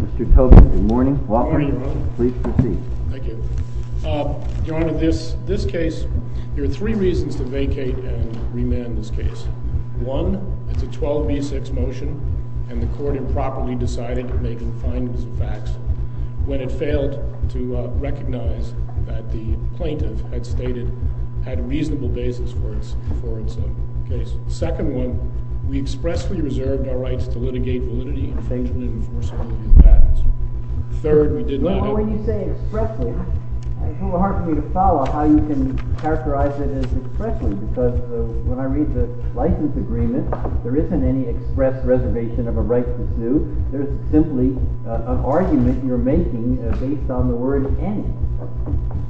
Mr. Tobin, good morning. Good morning, Your Honor. Please proceed. Thank you. Your Honor, this case, there are three reasons to vacate and remand this case. One, it's a 12 v. 6 motion, and the court improperly decided to make findings of facts, when it failed to Second one, we expressly reserved our rights to litigate validity, infringement, and enforceability of patents. Third, we did not. Well, when you say expressly, it's a little hard for me to follow how you can characterize it as expressly, because when I read the license agreement, there isn't any express reservation of a right to sue. There's simply an argument you're making based on the word any.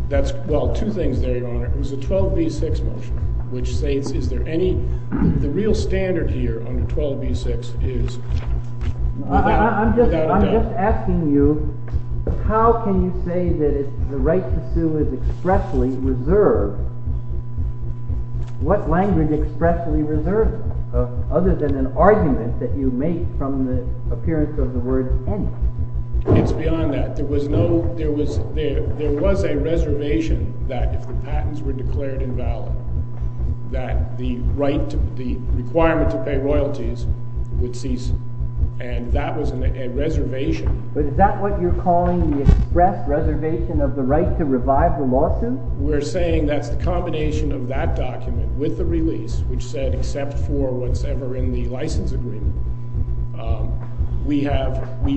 That's, well, two things there, Your Honor. It was a 12 v. 6 motion, which states, is there any, the real standard here under 12 v. 6 is without doubt. I'm just asking you, how can you say that the right to sue is expressly reserved? What language expressly reserves it, other than an argument that you make from the appearance of the word any? It's beyond that. There was no, there was, there was a reservation that if the patents were declared invalid, that the right to, the requirement to pay royalties would cease, and that was a reservation. But is that what you're calling the express reservation of the right to revive the lawsuit? We're saying that's the combination of that document with the release, which said except for what's ever in the license agreement. We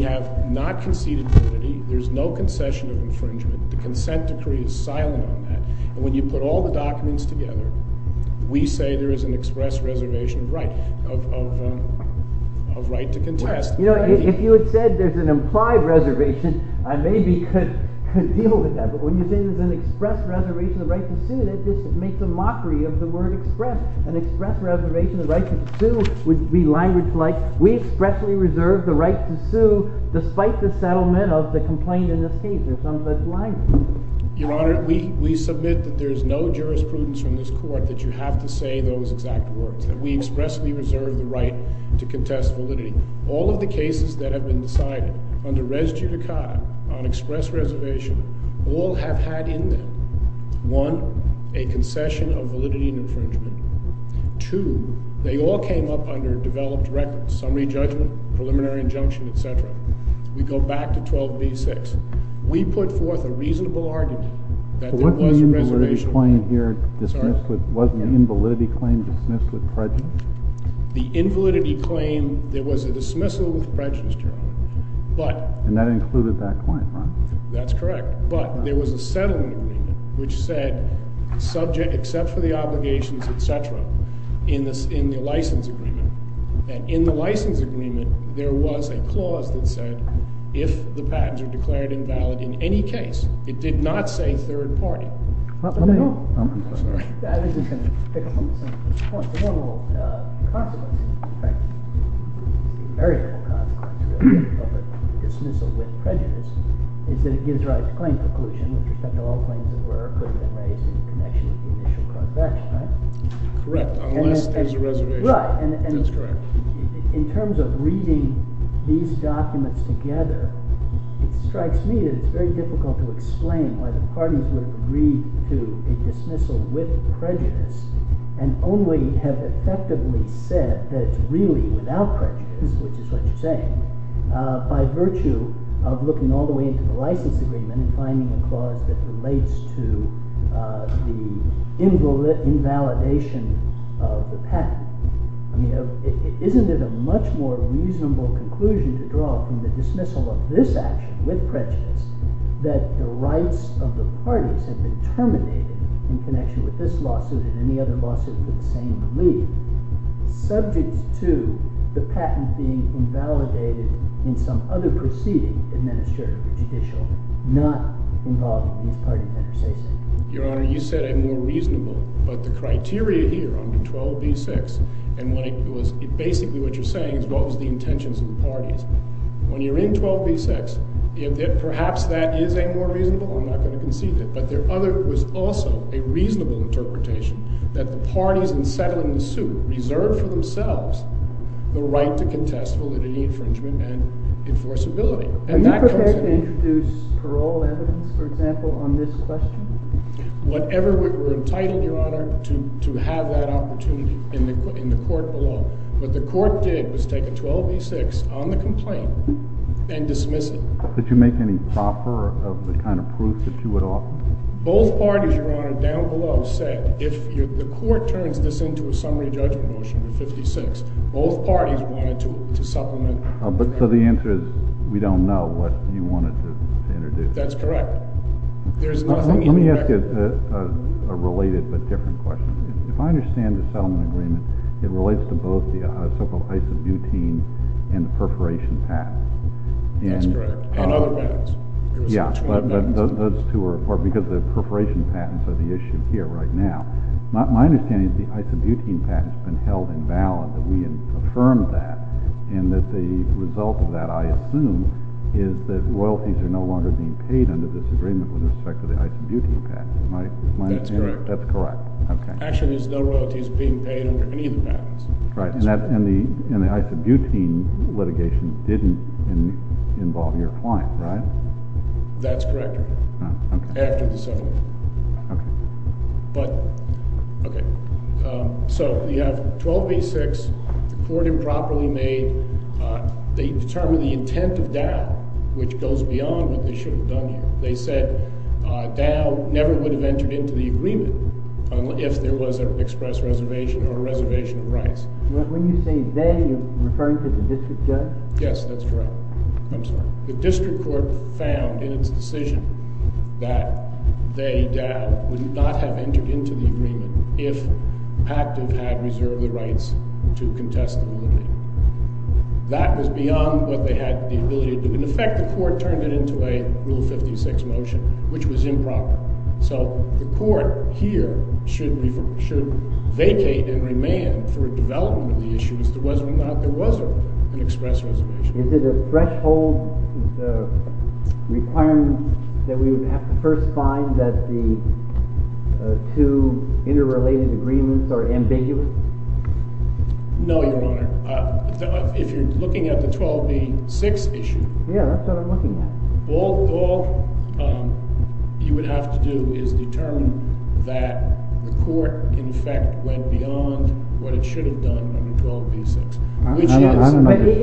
have not conceded unity. There's no concession of infringement. The consent decree is silent on that. And when you put all the documents together, we say there is an express reservation of right, of right to contest. You know, if you had said there's an implied reservation, I maybe could deal with that. But when you say there's an express reservation of the right to sue, that just makes a mockery of the word express. An express reservation of the right to sue would be language like, we expressly reserve the right to sue, despite the settlement of the complaint in this case, or some such language. Your Honor, we submit that there is no jurisprudence from this court that you have to say those exact words, that we expressly reserve the right to contest validity. All of the cases that have been decided under res judicata, on express reservation, all have had in them, one, a concession of validity and infringement. Two, they all came up under developed records, summary judgment, preliminary injunction, etc. We go back to 12b-6. We put forth a reasonable argument that there was a reservation. Wasn't the invalidity claim dismissed with prejudice? The invalidity claim, there was a dismissal with prejudice, Your Honor. And that included that claim, right? That's correct. But there was a settlement agreement, which said subject, except for the obligations, etc., in the license agreement. And in the license agreement, there was a clause that said, if the patents are declared invalid in any case, it did not say third party. I'm sorry. Correct. Unless there's a reservation. Right. That's correct. In terms of reading these documents together, it strikes me that it's very difficult to explain why the parties would have agreed to a dismissal with prejudice and only have effectively said that it's really without prejudice, which is what you're saying, by virtue of looking all the way into the license agreement and finding a clause that relates to the invalidation of the patent. I mean, isn't it a much more reasonable conclusion to draw from the dismissal of this action with prejudice that the rights of the parties have been terminated in connection with this lawsuit and any other lawsuits with the same relief, subject to the patent being invalidated in some other proceeding, administrative or judicial, not involving these party vendors, say so. Your Honor, you said a more reasonable. But the criteria here under 12b-6, and basically what you're saying is what was the intentions of the parties. When you're in 12b-6, perhaps that is a more reasonable. I'm not going to concede it. But there was also a reasonable interpretation that the parties in settling the suit reserved for themselves the right to contest validity infringement and enforceability. Are you prepared to introduce parole evidence, for example, on this question? Whatever we're entitled, Your Honor, to have that opportunity in the court below. What the court did was take a 12b-6 on the complaint and dismiss it. Did you make any proper of the kind of proof that you would offer? Both parties, Your Honor, down below said if the court turns this into a summary judgment motion in 56, both parties wanted to supplement. So the answer is we don't know what you wanted to introduce. That's correct. Let me ask you a related but different question. If I understand the settlement agreement, it relates to both the so-called isobutene and the perforation patents. That's correct. And other patents. Yeah. But those two are important because the perforation patents are the issue here right now. My understanding is the isobutene patent has been held invalid, that we have affirmed that, and that the result of that, I assume, is that royalties are no longer being paid under this agreement with respect to the isobutene patent. That's correct. That's correct. Actually, there's no royalties being paid under any of the patents. Right. And the isobutene litigation didn't involve your client, right? That's correct. After the settlement. Okay. So you have 1286, the court improperly made, they determined the intent of Dow, which goes beyond what they should have done here. They said Dow never would have entered into the agreement if there was an express reservation or a reservation of rights. When you say they, are you referring to the district court? Yes, that's correct. I'm sorry. The district court found in its decision that they, Dow, would not have entered into the agreement if Pactiv had reserved the rights to contest the limit. That was beyond what they had the ability to do. In effect, the court turned it into a Rule 56 motion, which was improper. So the court here should vacate and remand for development of the issue as to whether or not there was an express reservation. Is it a threshold requirement that we would have to first find that the two interrelated agreements are ambiguous? No, Your Honor. If you're looking at the 1286 issue. Yeah, that's what I'm looking at. All you would have to do is determine that the court, in effect, went beyond what it should have done under 1286.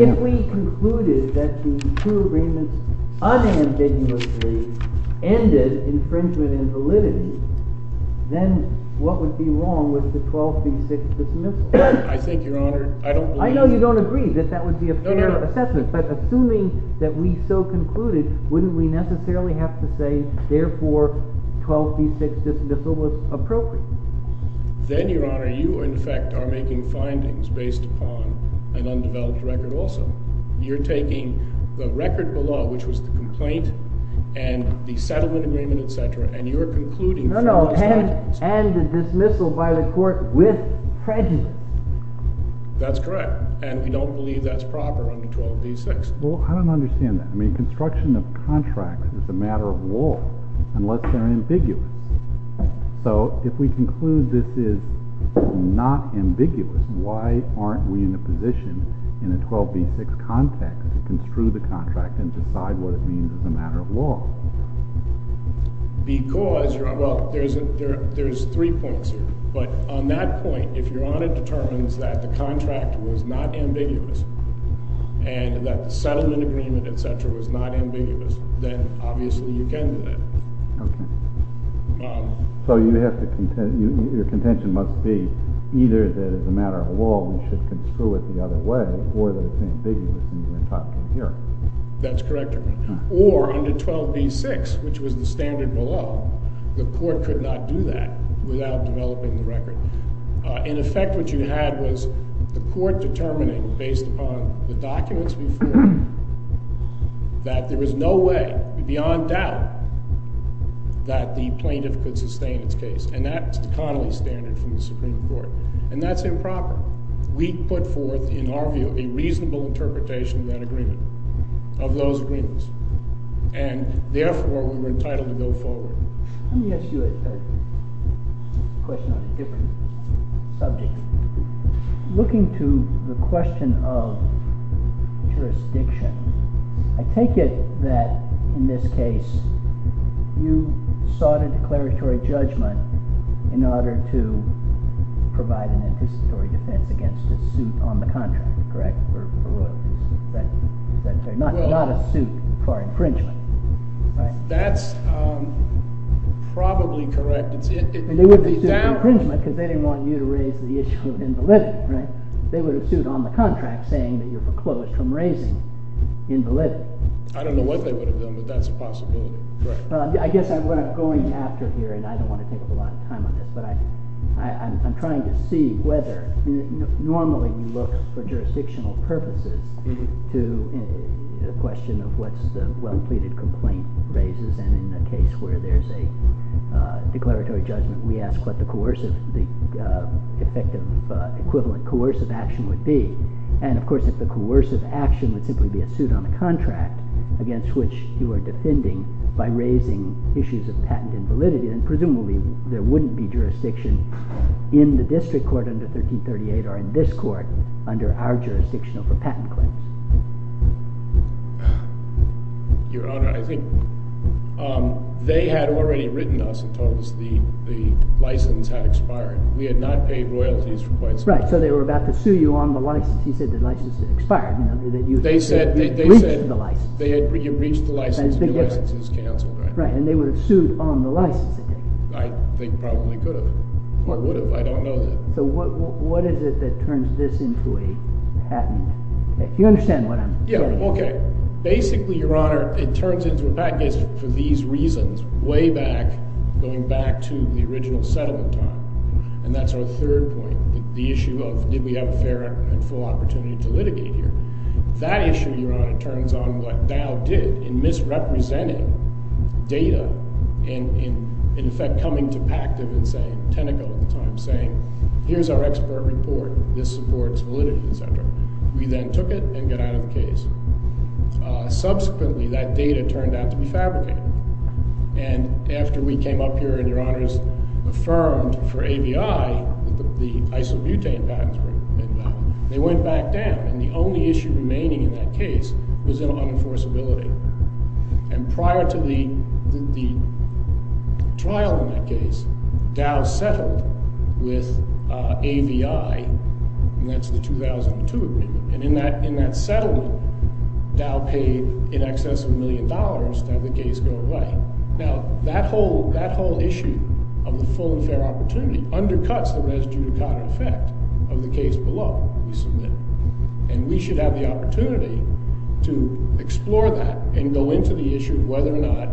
If we concluded that the two agreements unambiguously ended infringement and validity, then what would be wrong with the 1286 dismissal? I think, Your Honor, I don't believe that. I know you don't agree that that would be a fair assessment. But assuming that we so concluded, wouldn't we necessarily have to say, therefore, 1286 dismissal was appropriate? Then, Your Honor, you, in effect, are making findings based upon an undeveloped record also. You're taking the record below, which was the complaint and the settlement agreement, et cetera, and you're concluding— No, no, and the dismissal by the court with prejudice. That's correct. And we don't believe that's proper under 1286. Well, I don't understand that. I mean, construction of contracts is a matter of law unless they're ambiguous. So if we conclude this is not ambiguous, why aren't we in a position in a 1286 context to construe the contract and decide what it means as a matter of law? Because—well, there's three points here. But on that point, if Your Honor determines that the contract was not ambiguous and that the settlement agreement, et cetera, was not ambiguous, then obviously you can do that. Okay. So you have to—your contention must be either that it's a matter of law, we should construe it the other way, or that it's ambiguous in your top-down hearing. That's correct, Your Honor. Or under 12B-6, which was the standard below, the court could not do that without developing the record. In effect, what you had was the court determining, based upon the documents we've heard, that there was no way beyond doubt that the plaintiff could sustain its case. And that's the Connolly standard from the Supreme Court. And that's improper. We put forth, in our view, a reasonable interpretation of that agreement, of those agreements. And therefore, we were entitled to go forward. Let me ask you a question on a different subject. Looking to the question of jurisdiction, I take it that, in this case, you sought a declaratory judgment in order to provide an anticipatory defense against a suit on the contract, correct? Not a suit for infringement. That's probably correct. And they wouldn't have sued for infringement because they didn't want you to raise the issue of invalidity, right? They would have sued on the contract saying that you're foreclosed from raising invalidity. I don't know what they would have done, but that's a possibility. I guess what I'm going after here, and I don't want to take up a lot of time on this, but I'm trying to see whether normally you look for jurisdictional purposes to a question of what's the well-pleaded complaint raises. And in the case where there's a declaratory judgment, we ask what the coercive, the effective equivalent coercive action would be. And, of course, if the coercive action would simply be a suit on the contract against which you are defending by raising issues of patent invalidity, then presumably there wouldn't be jurisdiction in the district court under 1338 or in this court under our jurisdiction of a patent claim. Your Honor, I think they had already written us and told us the license had expired. We had not paid royalties for quite some time. Right, so they were about to sue you on the license. He said the license had expired. They said you had breached the license. You had breached the license and your license was canceled. Right, and they would have sued on the license. I think probably could have or would have. I don't know that. So what is it that turns this into a patent case? You understand what I'm saying. Yeah, okay. Basically, Your Honor, it turns into a patent case for these reasons way back, going back to the original settlement time, and that's our third point, the issue of did we have a fair and full opportunity to litigate here. That issue, Your Honor, turns on what Dow did in misrepresenting data and in effect coming to Pactive and saying, Tenneco at the time, saying here's our expert report. This supports validity, et cetera. We then took it and got out of the case. Subsequently, that data turned out to be fabricated, and after we came up here and, Your Honors, affirmed for ABI that the isobutane patents were invalid, they went back down. And the only issue remaining in that case was unenforceability. And prior to the trial in that case, Dow settled with ABI, and that's the 2002 agreement. And in that settlement, Dow paid in excess of a million dollars to have the case go away. Now, that whole issue of the full and fair opportunity undercuts the res judicata effect of the case below we submit. And we should have the opportunity to explore that and go into the issue of whether or not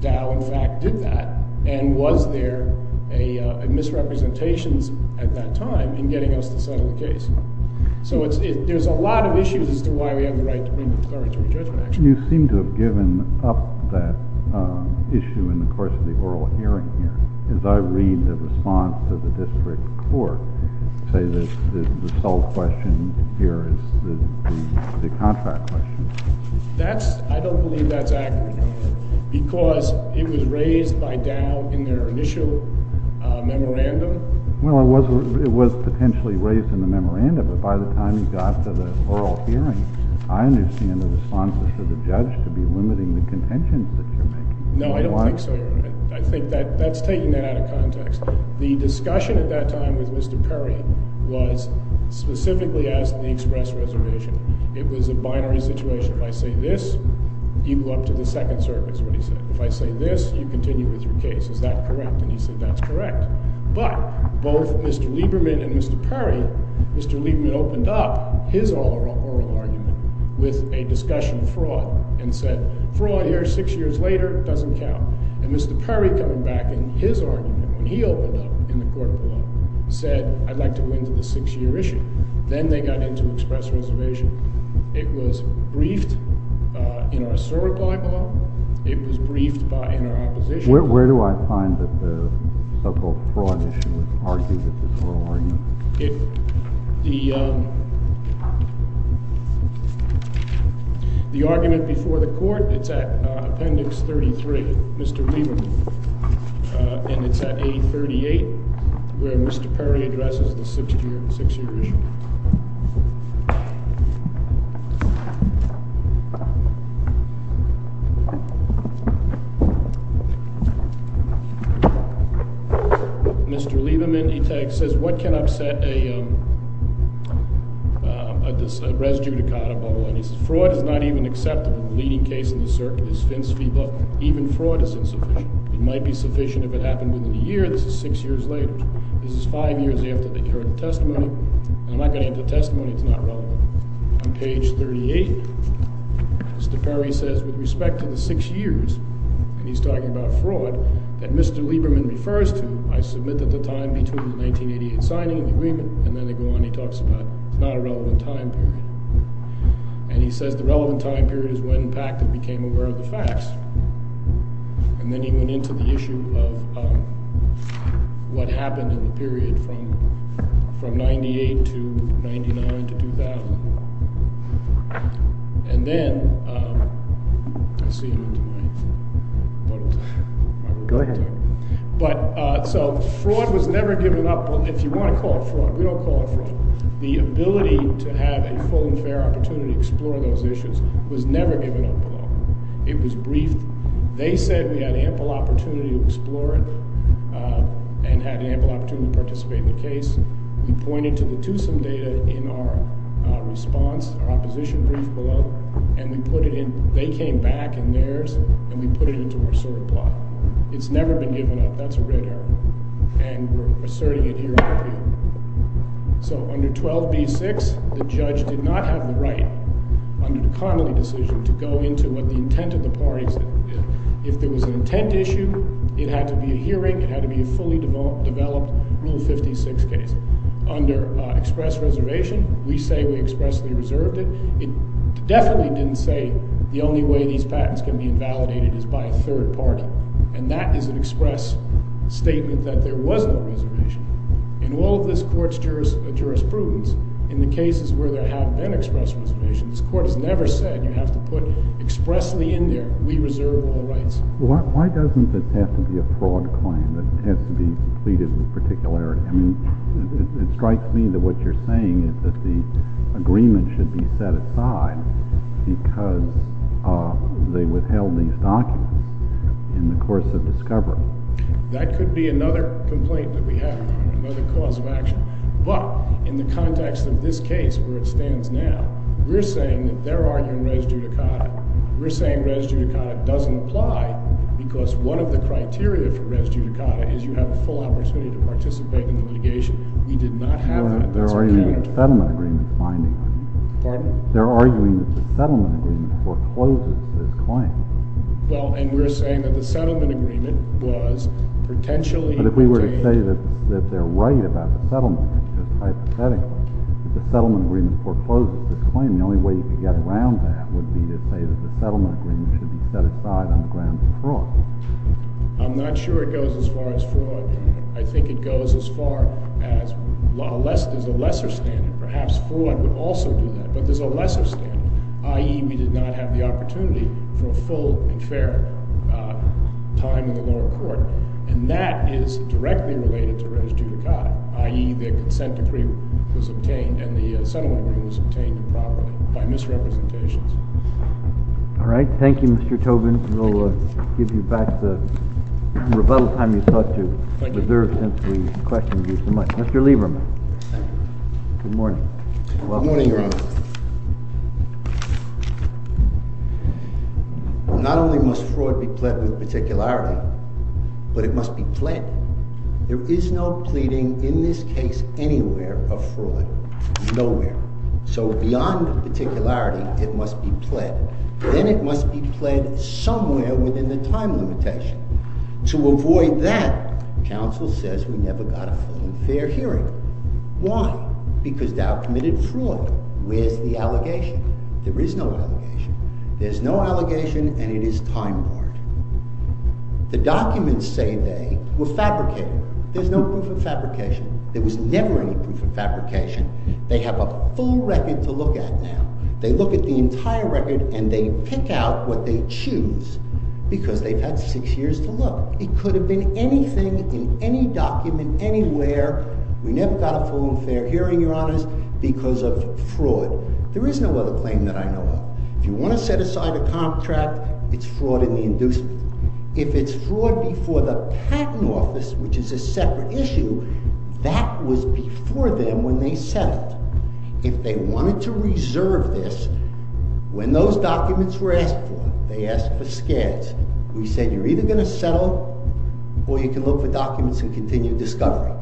Dow, in fact, did that and was there a misrepresentations at that time in getting us to settle the case. So there's a lot of issues as to why we have the right to bring an authority to a judgment action. You seem to have given up that issue in the course of the oral hearing here. As I read the response to the district court, you say that the sole question here is the contract question. I don't believe that's accurate, Your Honor, because it was raised by Dow in their initial memorandum. Well, it was potentially raised in the memorandum. But by the time you got to the oral hearing, I understand the response was for the judge to be limiting the contentions that you're making. No, I don't think so, Your Honor. I think that's taking that out of context. The discussion at that time with Mr. Perry was specifically as to the express reservation. It was a binary situation. If I say this, you go up to the second circuit is what he said. If I say this, you continue with your case. Is that correct? And he said that's correct. But both Mr. Lieberman and Mr. Perry, Mr. Lieberman opened up his oral argument with a discussion of fraud and said, Fraud here six years later doesn't count. And Mr. Perry, coming back in his argument when he opened up in the court of law, said, I'd like to go into the six-year issue. Then they got into express reservation. It was briefed in our server by-law. It was briefed in our opposition. Where do I find that the so-called fraud issue was argued at this oral argument? The argument before the court, it's at appendix 33, Mr. Lieberman. And it's at A38 where Mr. Perry addresses the six-year issue. Mr. Lieberman, he says, what can upset a res judicata bubble? And he says, fraud is not even acceptable. The leading case in the circuit is Finn's fee book. Even fraud is insufficient. It might be sufficient if it happened within a year. This is six years later. This is five years after the testimony. I'm not going to get into the testimony. It's not relevant. On page 38, Mr. Perry says, with respect to the six years, and he's talking about fraud, that Mr. Lieberman refers to, I submit that the time between the 1988 signing of the agreement, and then they go on and he talks about it's not a relevant time period. And he says the relevant time period is when Packett became aware of the facts. And then he went into the issue of what happened in the period from 98 to 99 to 2000. And then I see you in my puddle. Go ahead. So fraud was never given up. If you want to call it fraud, we don't call it fraud. The ability to have a full and fair opportunity to explore those issues was never given up at all. It was briefed. They said we had ample opportunity to explore it and had ample opportunity to participate in the case. We pointed to the TUSIM data in our response, our opposition brief below, and we put it in. They came back in theirs, and we put it into our SOAR plot. It's never been given up. That's a red arrow. And we're asserting it here on the field. So under 12b-6, the judge did not have the right, under the Connolly decision, to go into what the intent of the parties did. If there was an intent issue, it had to be a hearing. It had to be a fully developed Rule 56 case. Under express reservation, we say we expressly reserved it. It definitely didn't say the only way these patents can be invalidated is by a third party. And that is an express statement that there was no reservation. In all of this court's jurisprudence, in the cases where there have been express reservations, this court has never said you have to put expressly in there, we reserve all rights. Why doesn't this have to be a fraud claim that has to be completed with particularity? I mean, it strikes me that what you're saying is that the agreement should be set aside because they withheld these documents in the course of discovery. That could be another complaint that we have, another cause of action. But in the context of this case, where it stands now, we're saying that they're arguing res judicata. We're saying res judicata doesn't apply because one of the criteria for res judicata is you have a full opportunity to participate in the litigation. We did not have that as a character. They're arguing that the settlement agreement is binding on you. Pardon? They're arguing that the settlement agreement forecloses this claim. Well, and we're saying that the settlement agreement was potentially... But if we were to say that they're right about the settlement, just hypothetically, that the settlement agreement forecloses this claim, the only way you could get around that would be to say that the settlement agreement should be set aside on the grounds of fraud. I'm not sure it goes as far as fraud. I think it goes as far as there's a lesser standard. Perhaps fraud would also do that, but there's a lesser standard, i.e. we did not have the opportunity for a full and fair time in the lower court. And that is directly related to res judicata, i.e. the consent decree was obtained and the settlement agreement was obtained improperly by misrepresentations. All right. Thank you, Mr. Tobin. We'll give you back the rebuttal time you sought to reserve since we questioned you so much. Mr. Lieberman. Good morning. Good morning, Your Honor. Not only must fraud be pled with particularity, but it must be pled. There is no pleading in this case anywhere of fraud, nowhere. So beyond particularity, it must be pled. Then it must be pled somewhere within the time limitation. To avoid that, counsel says we never got a full and fair hearing. Why? Because Dow committed fraud. Where's the allegation? There is no allegation. There's no allegation, and it is time-barred. The documents say they were fabricated. There's no proof of fabrication. There was never any proof of fabrication. They have a full record to look at now. They look at the entire record, and they pick out what they choose because they've had six years to look. It could have been anything in any document anywhere. We never got a full and fair hearing, Your Honors, because of fraud. There is no other claim that I know of. If you want to set aside a contract, it's fraud in the inducement. If it's fraud before the patent office, which is a separate issue, that was before them when they settled. If they wanted to reserve this, when those documents were asked for, they asked for scads. We said you're either going to settle, or you can look for documents in continued discovery.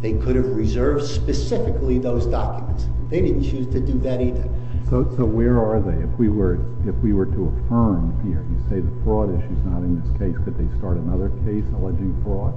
They could have reserved specifically those documents. They didn't choose to do that either. So where are they? If we were to affirm here, you say the fraud issue is not in this case, could they start another case alleging fraud?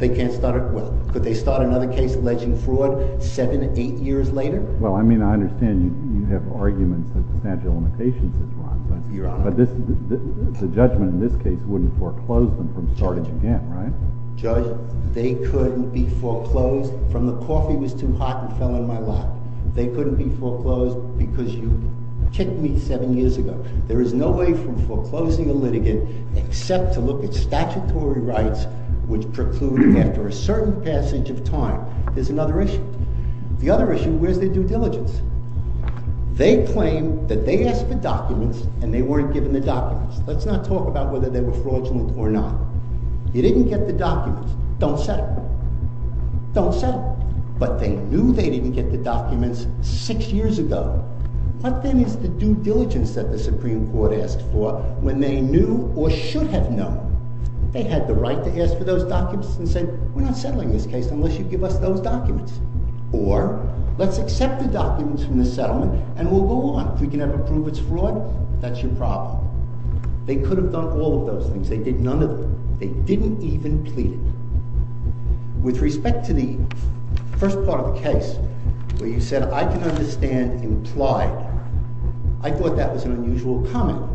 They can't start another case alleging fraud seven, eight years later? Well, I mean, I understand you have arguments that substantial limitations is wrong, but the judgment in this case wouldn't foreclose them from starting again, right? Judge, they couldn't be foreclosed from the coffee was too hot and fell in my lap. They couldn't be foreclosed because you kicked me seven years ago. There is no way from foreclosing a litigant except to look at statutory rights which preclude after a certain passage of time. There's another issue. The other issue, where's their due diligence? They claim that they asked for documents and they weren't given the documents. Let's not talk about whether they were fraudulent or not. You didn't get the documents. Don't settle. Don't settle. But they knew they didn't get the documents six years ago. What then is the due diligence that the Supreme Court asked for when they knew or should have known? They had the right to ask for those documents and say, we're not settling this case unless you give us those documents. Or, let's accept the documents from the settlement and we'll go on. If we can never prove it's fraud, that's your problem. They could have done all of those things. They did none of them. They didn't even plead it. With respect to the first part of the case where you said, I can understand implied. I thought that was an unusual comment.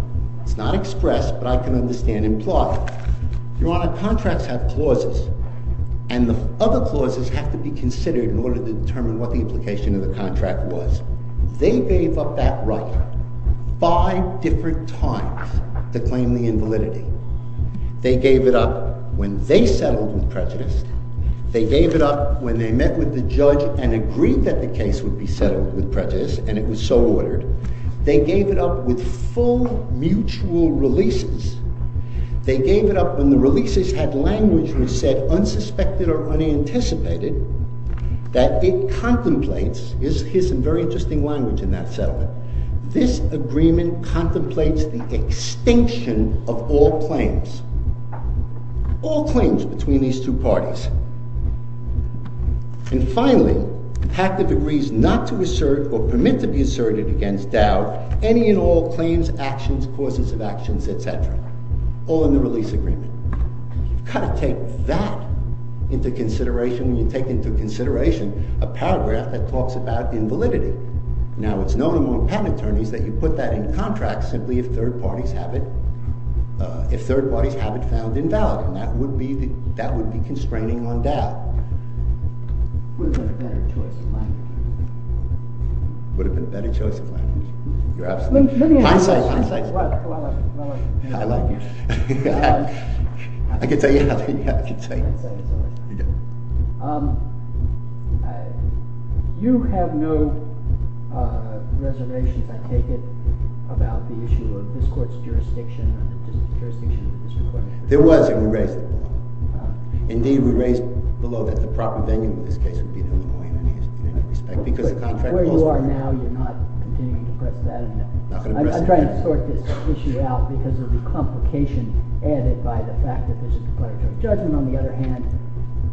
It's not expressed, but I can understand implied. Your Honor, contracts have clauses. And the other clauses have to be considered in order to determine what the implication of the contract was. They gave up that right five different times to claim the invalidity. They gave it up when they settled with prejudice. They gave it up when they met with the judge and agreed that the case would be settled with prejudice and it was so ordered. They gave it up with full mutual releases. They gave it up when the releases had language that was said unsuspected or unanticipated that it contemplates. Here's some very interesting language in that settlement. This agreement contemplates the extinction of all claims. All claims between these two parties. And finally, Pactiff agrees not to assert or permit to be asserted against doubt any and all claims, actions, causes of actions, etc. All in the release agreement. You've got to take that into consideration when you take into consideration a paragraph that talks about invalidity. Now, it's known among patent attorneys that you put that in contracts simply if third parties have it found invalid. And that would be constraining on doubt. It would have been a better choice of language. It would have been a better choice of language. You're absolutely right. Let me ask you something. I'm sorry, I'm sorry. Well, I like you. I like you. I can tell you how to say it. I can tell you how to say it. You have no reservations, I take it, about the issue of this court's jurisdiction or the jurisdiction of the district court? There was, and we raised it. I don't know that the proper venue in this case would be there. Where you are now, you're not continuing to press that. I'm trying to sort this issue out because of the complication added by the fact that there's a declaratory judgment. On the other hand,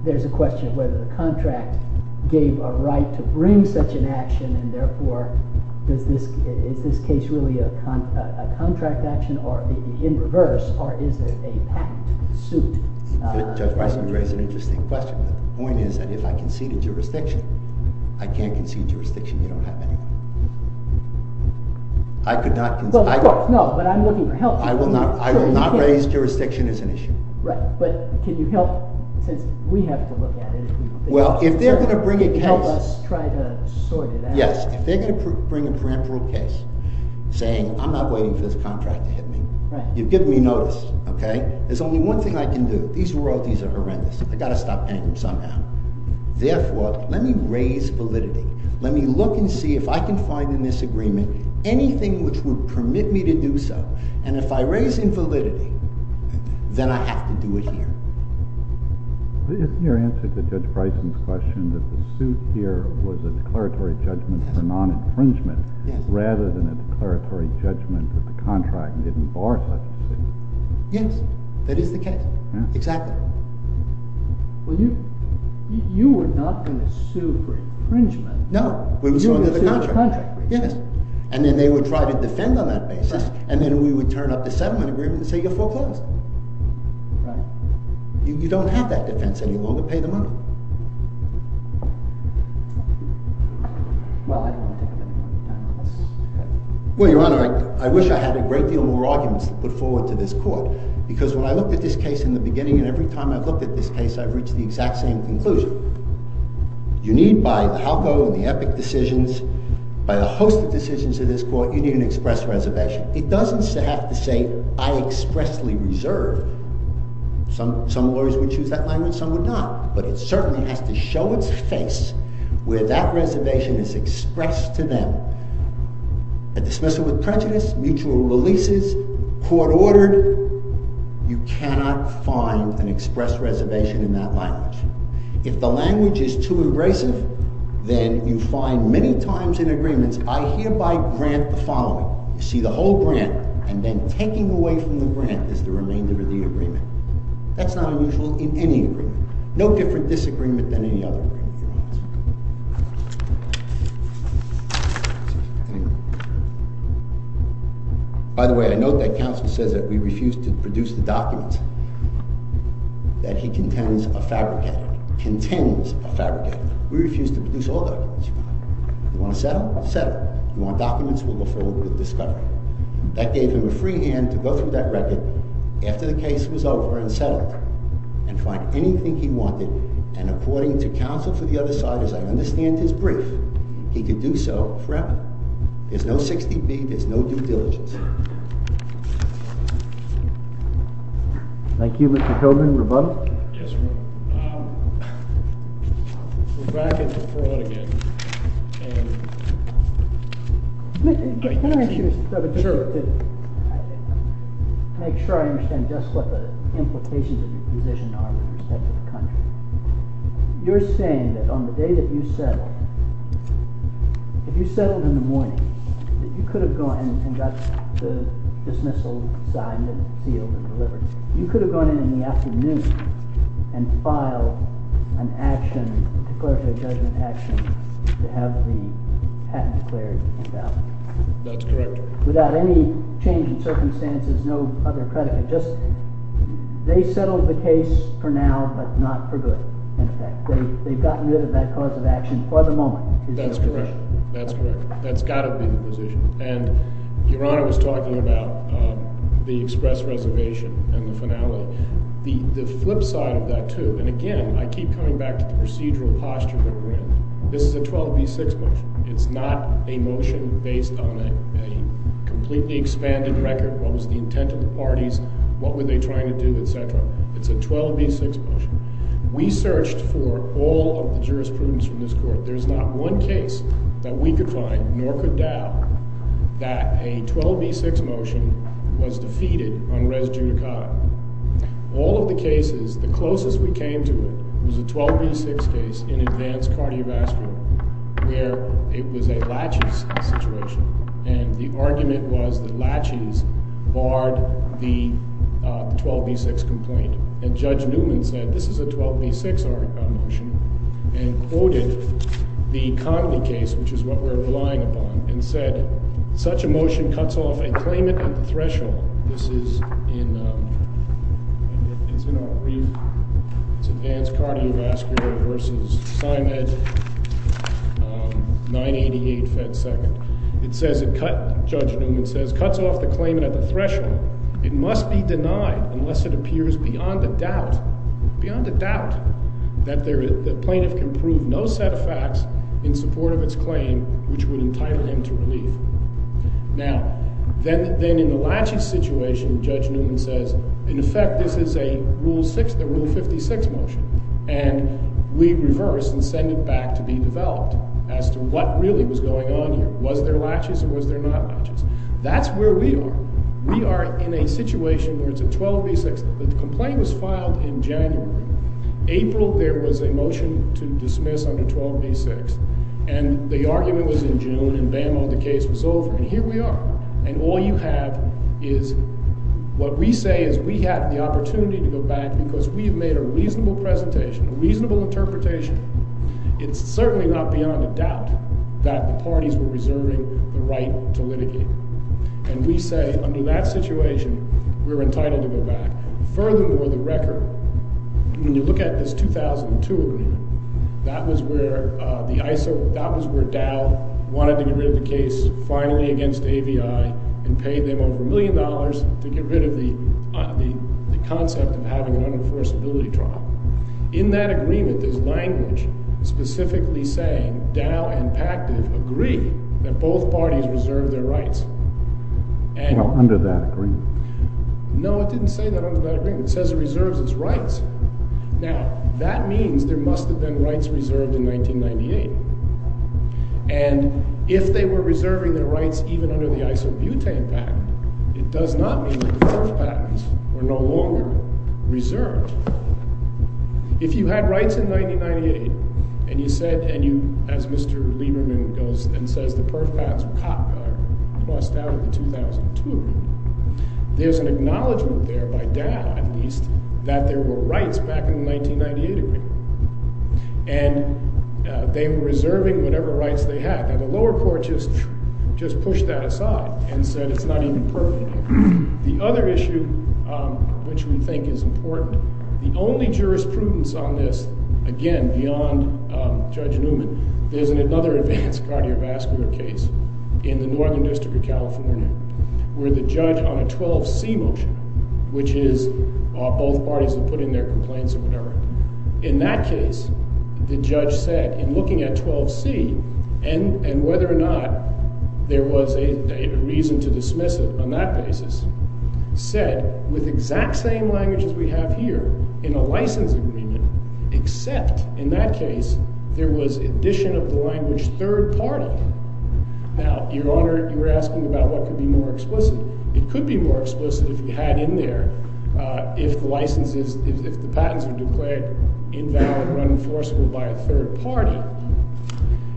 there's a question of whether the contract gave a right to bring such an action and therefore, is this case really a contract action in reverse or is it a patent suit? Judge Bison raised an interesting question. The point is that if I concede a jurisdiction, I can't concede jurisdiction. You don't have any. I could not concede. No, but I'm looking for help. I will not raise jurisdiction as an issue. Right, but could you help, since we have to look at it. Well, if they're going to bring a case. Help us try to sort it out. Yes, if they're going to bring a parenteral case saying I'm not waiting for this contract to hit me, you've given me notice, okay? There's only one thing I can do. These royalties are horrendous. I've got to stop paying them somehow. Therefore, let me raise validity. Let me look and see if I can find in this agreement anything which would permit me to do so. And if I raise invalidity, then I have to do it here. Isn't your answer to Judge Bison's question that the suit here was a declaratory judgment for non-infringement rather than a declaratory judgment that the contract didn't bar such a thing? Yes, that is the case, exactly. Well, you were not going to sue for infringement. No, we would sue under the contract. You would sue under the contract. Yes, and then they would try to defend on that basis. And then we would turn up the settlement agreement and say you have foreclosed. Right. You don't have that defense any longer. Pay them up. Well, I don't want to take up any more time on this. Well, Your Honor, I wish I had a great deal more arguments to put forward to this court. Because when I looked at this case in the beginning and every time I've looked at this case, I've reached the exact same conclusion. You need, by the how-go and the epic decisions, by a host of decisions of this court, you need an express reservation. It doesn't have to say I expressly reserve. Some lawyers would choose that language, some would not. But it certainly has to show its face where that reservation is expressed to them. A dismissal with prejudice, mutual releases, court ordered, you cannot find an express reservation in that language. If the language is too abrasive, then you find many times in agreements, I hereby grant the following. You see, the whole grant, and then taking away from the grant is the remainder of the agreement. That's not unusual in any agreement. No different disagreement than any other agreement, Your Honor. Excuse me. By the way, I note that counsel says that we refuse to produce the documents that he contends are fabricated. Contends are fabricated. We refuse to produce all documents, Your Honor. You want to settle? Settle. You want documents? We'll go forward with discovery. That gave him a free hand to go through that record after the case was over and settled and find anything he wanted and according to counsel for the other side, as I understand his brief, he could do so forever. There's no 60B. There's no due diligence. Thank you, Mr. Coburn. Rebuttal? Yes, Your Honor. We're back at the court again. Can I ask you, Mr. Coburn, to make sure I understand just what the implications of your position are from the perspective of the country. You're saying that on the day that you settled, if you settled in the morning, that you could have gone and got the dismissal signed and sealed and delivered. You could have gone in the afternoon and filed an action, declaratory judgment action, to have the patent declared invalid. That's correct. Without any change in circumstances, no other predicate. They settled the case for now, but not for good. They've gotten rid of that cause of action for the moment. That's correct. That's got to be the position. Your Honor was talking about the express reservation and the finality. The flip side of that, too, and again, I keep coming back to the procedural posture that we're in. This is a 12B6 motion. It's not a motion based on a completely expanded record of what was the intent of the parties, what were they trying to do, etc. It's a 12B6 motion. We searched for all of the jurisprudence from this Court. There's not one case that we could find, nor could Dow, that a 12B6 motion was defeated on res judicata. All of the cases, the closest we came to it, was a 12B6 case in advanced cardiovascular where it was a latches situation. And the argument was that latches barred the 12B6 complaint. And Judge Newman said, this is a 12B6 motion, and quoted the Connolly case, which is what we're relying upon, and said, such a motion cuts off a claimant at the threshold. This is in, it's in our brief. It's advanced cardiovascular versus Simon 988 Fed Second. It says it cuts, Judge Newman says, cuts off the claimant at the threshold. It must be denied unless it appears beyond a doubt, beyond a doubt, that the plaintiff can prove no set of facts in support of its claim, which would entitle him to relief. Now, then in the latches situation, Judge Newman says, in effect, this is a Rule 6, the Rule 56 motion, and we reverse and send it back to be developed as to what really was going on here. Was there latches or was there not latches? That's where we are. We are in a situation where it's a 12B6. The complaint was filed in January. April, there was a motion to dismiss under 12B6, and the argument was in June, and bam, the case was over, and here we are. And all you have is what we say is we had the opportunity to go back because we've made a reasonable presentation, a reasonable interpretation. It's certainly not beyond a doubt that the parties were reserving the right to litigate. And we say, under that situation, we're entitled to go back. Furthermore, the record, when you look at this 2002 agreement, that was where the ISO, that was where DAO wanted to get rid of the case finally against AVI and paid them over a million dollars to get rid of the concept of having an unenforceability trial. In that agreement, there's language specifically saying DAO and Pacted agree that both parties reserve their rights. Well, under that agreement. No, it didn't say that under that agreement. It says it reserves its rights. Now, that means there must have been rights reserved in 1998. And if they were reserving their rights even under the ISO-Butane Pact, it does not mean that those patents were no longer reserved. If you had rights in 1998 and you said, and you, as Mr. Lieberman goes and says, the Perth Patents were crossed out of the 2002 agreement, there's an acknowledgement there by DAO, at least, that there were rights back in the 1998 agreement. And they were reserving whatever rights they had. Now, the lower court just pushed that aside and said it's not even Perth anymore. The other issue which we think is important, the only jurisprudence on this, again, beyond Judge Newman, there's another advanced cardiovascular case in the Northern District of California where the judge on a 12C motion, which is both parties have put in their complaints or whatever, in that case the judge said, in looking at 12C and whether or not there was a reason to dismiss it on that basis, said with exact same language as we have here in a license agreement except in that case there was addition of the language third party. Now, Your Honor, you were asking about what could be more explicit. It could be more explicit if you had in there if the license is, if the patents are declared invalid or unenforceable by a third party.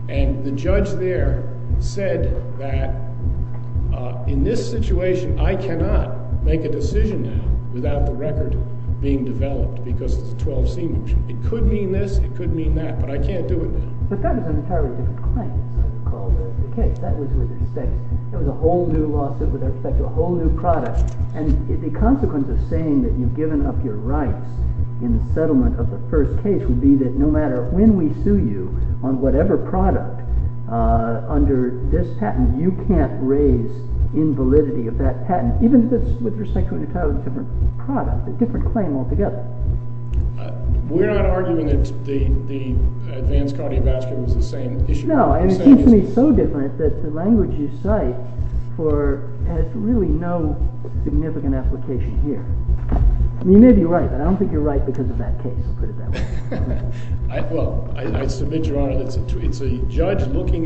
And the judge there said that in this situation I cannot make a decision now without the record being developed because it's a 12C motion. It could mean this, it could mean that, but I can't do it now. But that is an entirely different claim as it's called in the case. That was with respect, it was a whole new lawsuit with respect to a whole new product and the consequence of saying that you've given up your rights in the settlement of the first case would be that no matter when we sue you on whatever product under this patent you can't raise invalidity of that patent, even if it's with respect to a totally different product a different claim altogether. We're not arguing that the advanced cardiovascular is the same issue. No, and it seems to me so different that the language you cite for, has really no significant application here. You may be right, but I don't think you're right because of that case, to put it that way. Well, I was looking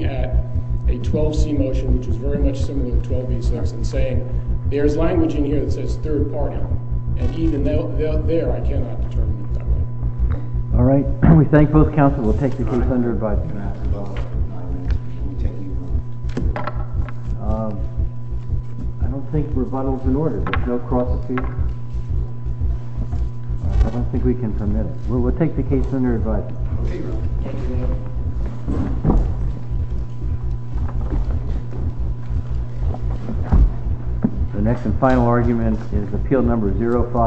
at a 12C motion which is very much similar to 12B6 and saying, there's language in here that says third party, and even there I cannot determine it that way. Alright, we thank both counsel, we'll take the case under advice. I don't think rebuttal's in order, there's no cross-examination. I don't think we can permit it. We'll take the case under advice. Thank you. The next and final argument is appeal number 05.